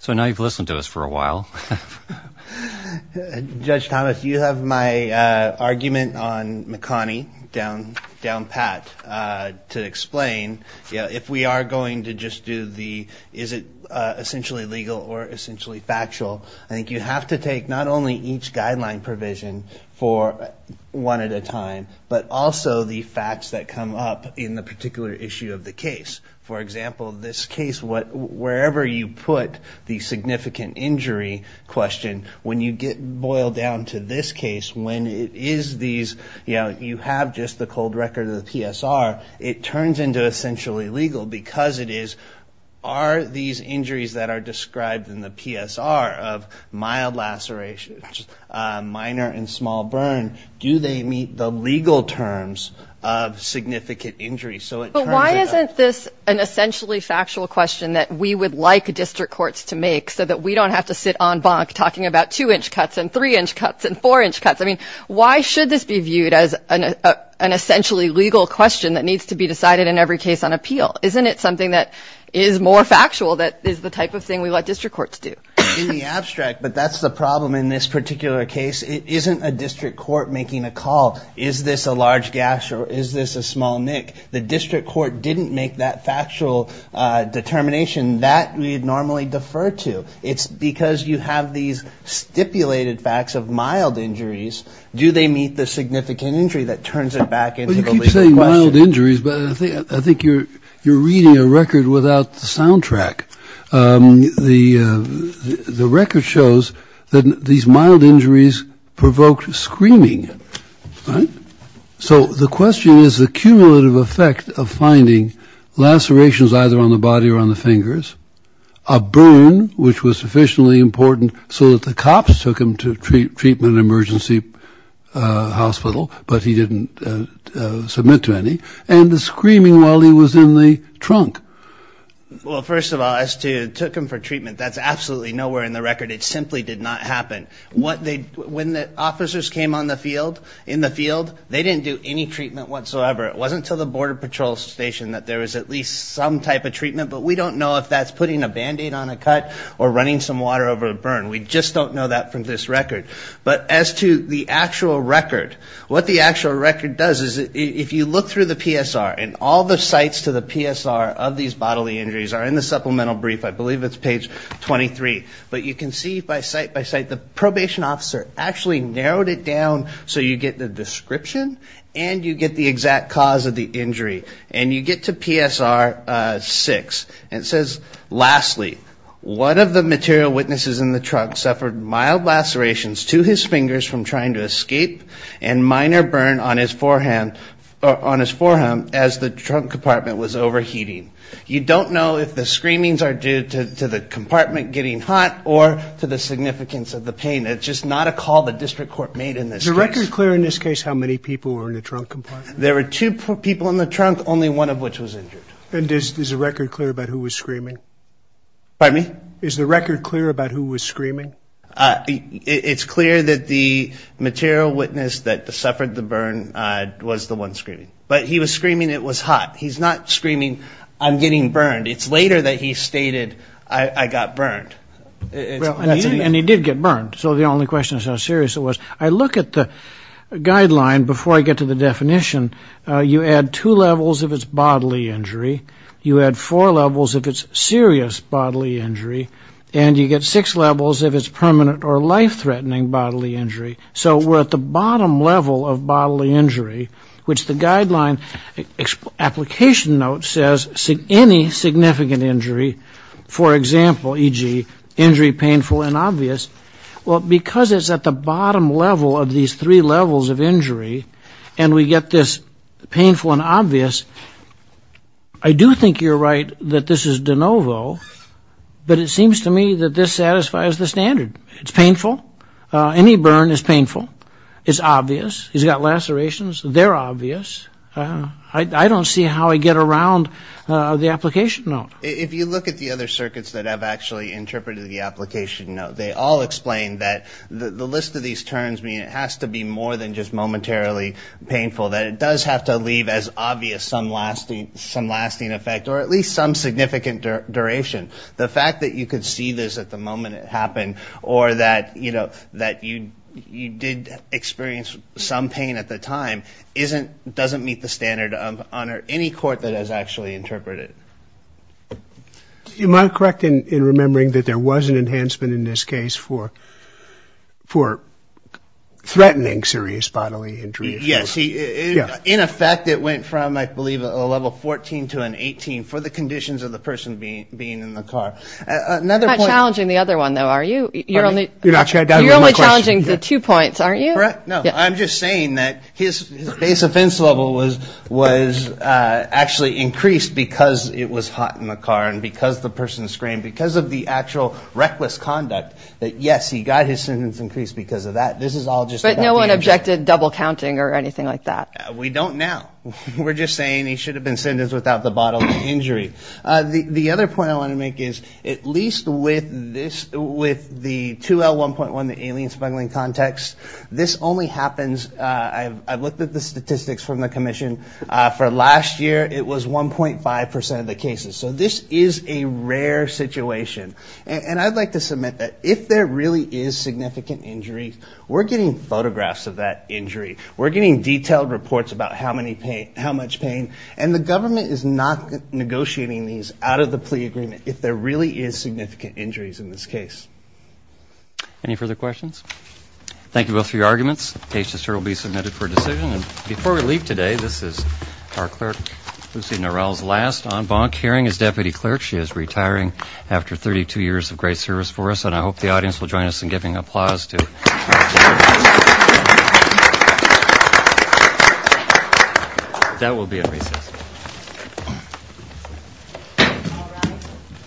So now you've listened to us for a while. Judge Thomas, you have my argument on McConnie down pat to explain. If we are going to just do the is it essentially legal or essentially factual, I think you have to take not only each guideline provision for one at a time, but also the facts that come up in the particular issue of the case. For example, this case, wherever you put the significant injury question, when you get boiled down to this case, when it is these – you have just the cold record of the PSR, it turns into essentially legal because it is, are these injuries that are described in the PSR of mild lacerations, minor and small burn, do they meet the legal terms of significant injury? But why isn't this an essentially factual question that we would like district courts to make so that we don't have to sit on bonk talking about two-inch cuts and three-inch cuts and four-inch cuts? Why should this be viewed as an essentially legal question that needs to be decided in every case on appeal? Isn't it something that is more factual that is the type of thing we let district courts do? In the abstract, but that's the problem in this particular case. It isn't a district court making a call. Is this a large gash or is this a small nick? The district court didn't make that factual determination that we normally defer to. It's because you have these stipulated facts of mild injuries, do they meet the significant injury that turns it back into a legal question? You keep saying mild injuries, but I think you're reading a record without the soundtrack. The record shows that these mild injuries provoked screaming, right? So the question is the cumulative effect of finding lacerations either on the body or on the fingers, a burn, which was sufficiently important so that the cops took him to treatment emergency hospital, but he didn't submit to any, and the screaming while he was in the trunk. Well, first of all, as to took him for treatment, that's absolutely nowhere in the record. It simply did not happen. When the officers came on the field, in the field, they didn't do any treatment whatsoever. It wasn't until the border patrol station that there was at least some type of treatment, but we don't know if that's putting a band-aid on a cut or running some water over a burn. We just don't know that from this record. But as to the actual record, what the actual record does is if you look through the PSR, and all the sites to the PSR of these bodily injuries are in the supplemental brief. I believe it's page 23, but you can see by site by site, the probation officer actually narrowed it down so you get the description and you get the exact cause of the injury. And you get to PSR 6, and it says, lastly, one of the material witnesses in the trunk suffered mild lacerations to his fingers from trying to escape and minor burn on his forehand, on his forehand, as the trunk compartment was overheating. You don't know if the screamings are due to the compartment getting hot or to the significance of the pain. It's just not a call the district court made in this case. Is the record clear in this case how many people were in the trunk compartment? There were two people in the trunk, only one of which was injured. And is the record clear about who was screaming? Pardon me? Is the record clear about who was screaming? It's clear that the material witness that suffered the burn was the one screaming. But he was screaming it was hot. He's not screaming, I'm getting burned. It's later that he stated, I got burned. And he did get burned. So the only question is how serious it was. I look at the guideline before I get to the definition. You add two levels if it's bodily injury. You add four levels if it's serious bodily injury. And you get six levels if it's permanent or life-threatening bodily injury. So we're at the bottom level of bodily injury, which the guideline application note says any significant injury, for example, e.g., injury painful and obvious. Well, because it's at the bottom level of these three levels of injury and we get this painful and obvious, I do think you're right that this is de novo. But it seems to me that this satisfies the standard. It's painful. Any burn is painful. It's obvious. He's got lacerations. They're obvious. I don't see how I get around the application note. If you look at the other circuits that have actually interpreted the application note, they all explain that the list of these terms mean it has to be more than just momentarily painful, that it does have to leave as obvious some lasting effect or at least some significant duration. The fact that you could see this at the moment it happened or that you did experience some pain at the time doesn't meet the standard under any court that has actually interpreted. Am I correct in remembering that there was an enhancement in this case for threatening serious bodily injury? Yes. In effect, it went from, I believe, a level 14 to an 18 for the conditions of the person being in the car. It's not challenging the other one, though, are you? You're only challenging the two points, aren't you? Correct. I'm just saying that his base offense level was actually increased because it was hot in the car and because the person screamed, because of the actual reckless conduct, that yes, he got his sentence increased because of that. But no one objected double counting or anything like that? We don't now. We're just saying he should have been sentenced without the bodily injury. The other point I want to make is at least with the 2L1.1, the alien smuggling context, this only happens, I've looked at the statistics from the commission, for last year it was 1.5% of the cases. So this is a rare situation and I'd like to submit that if there really is significant injury, we're getting photographs of that injury. We're getting detailed reports about how much pain and the government is not negotiating these out of the plea agreement if there really is significant injuries in this case. Any further questions? Thank you both for your arguments. Case to serve will be submitted for decision. And before we leave today, this is our clerk, Lucy Norell's last en banc hearing as deputy clerk. She is retiring after 32 years of great service for us. And I hope the audience will join us in giving applause. That will be at recess.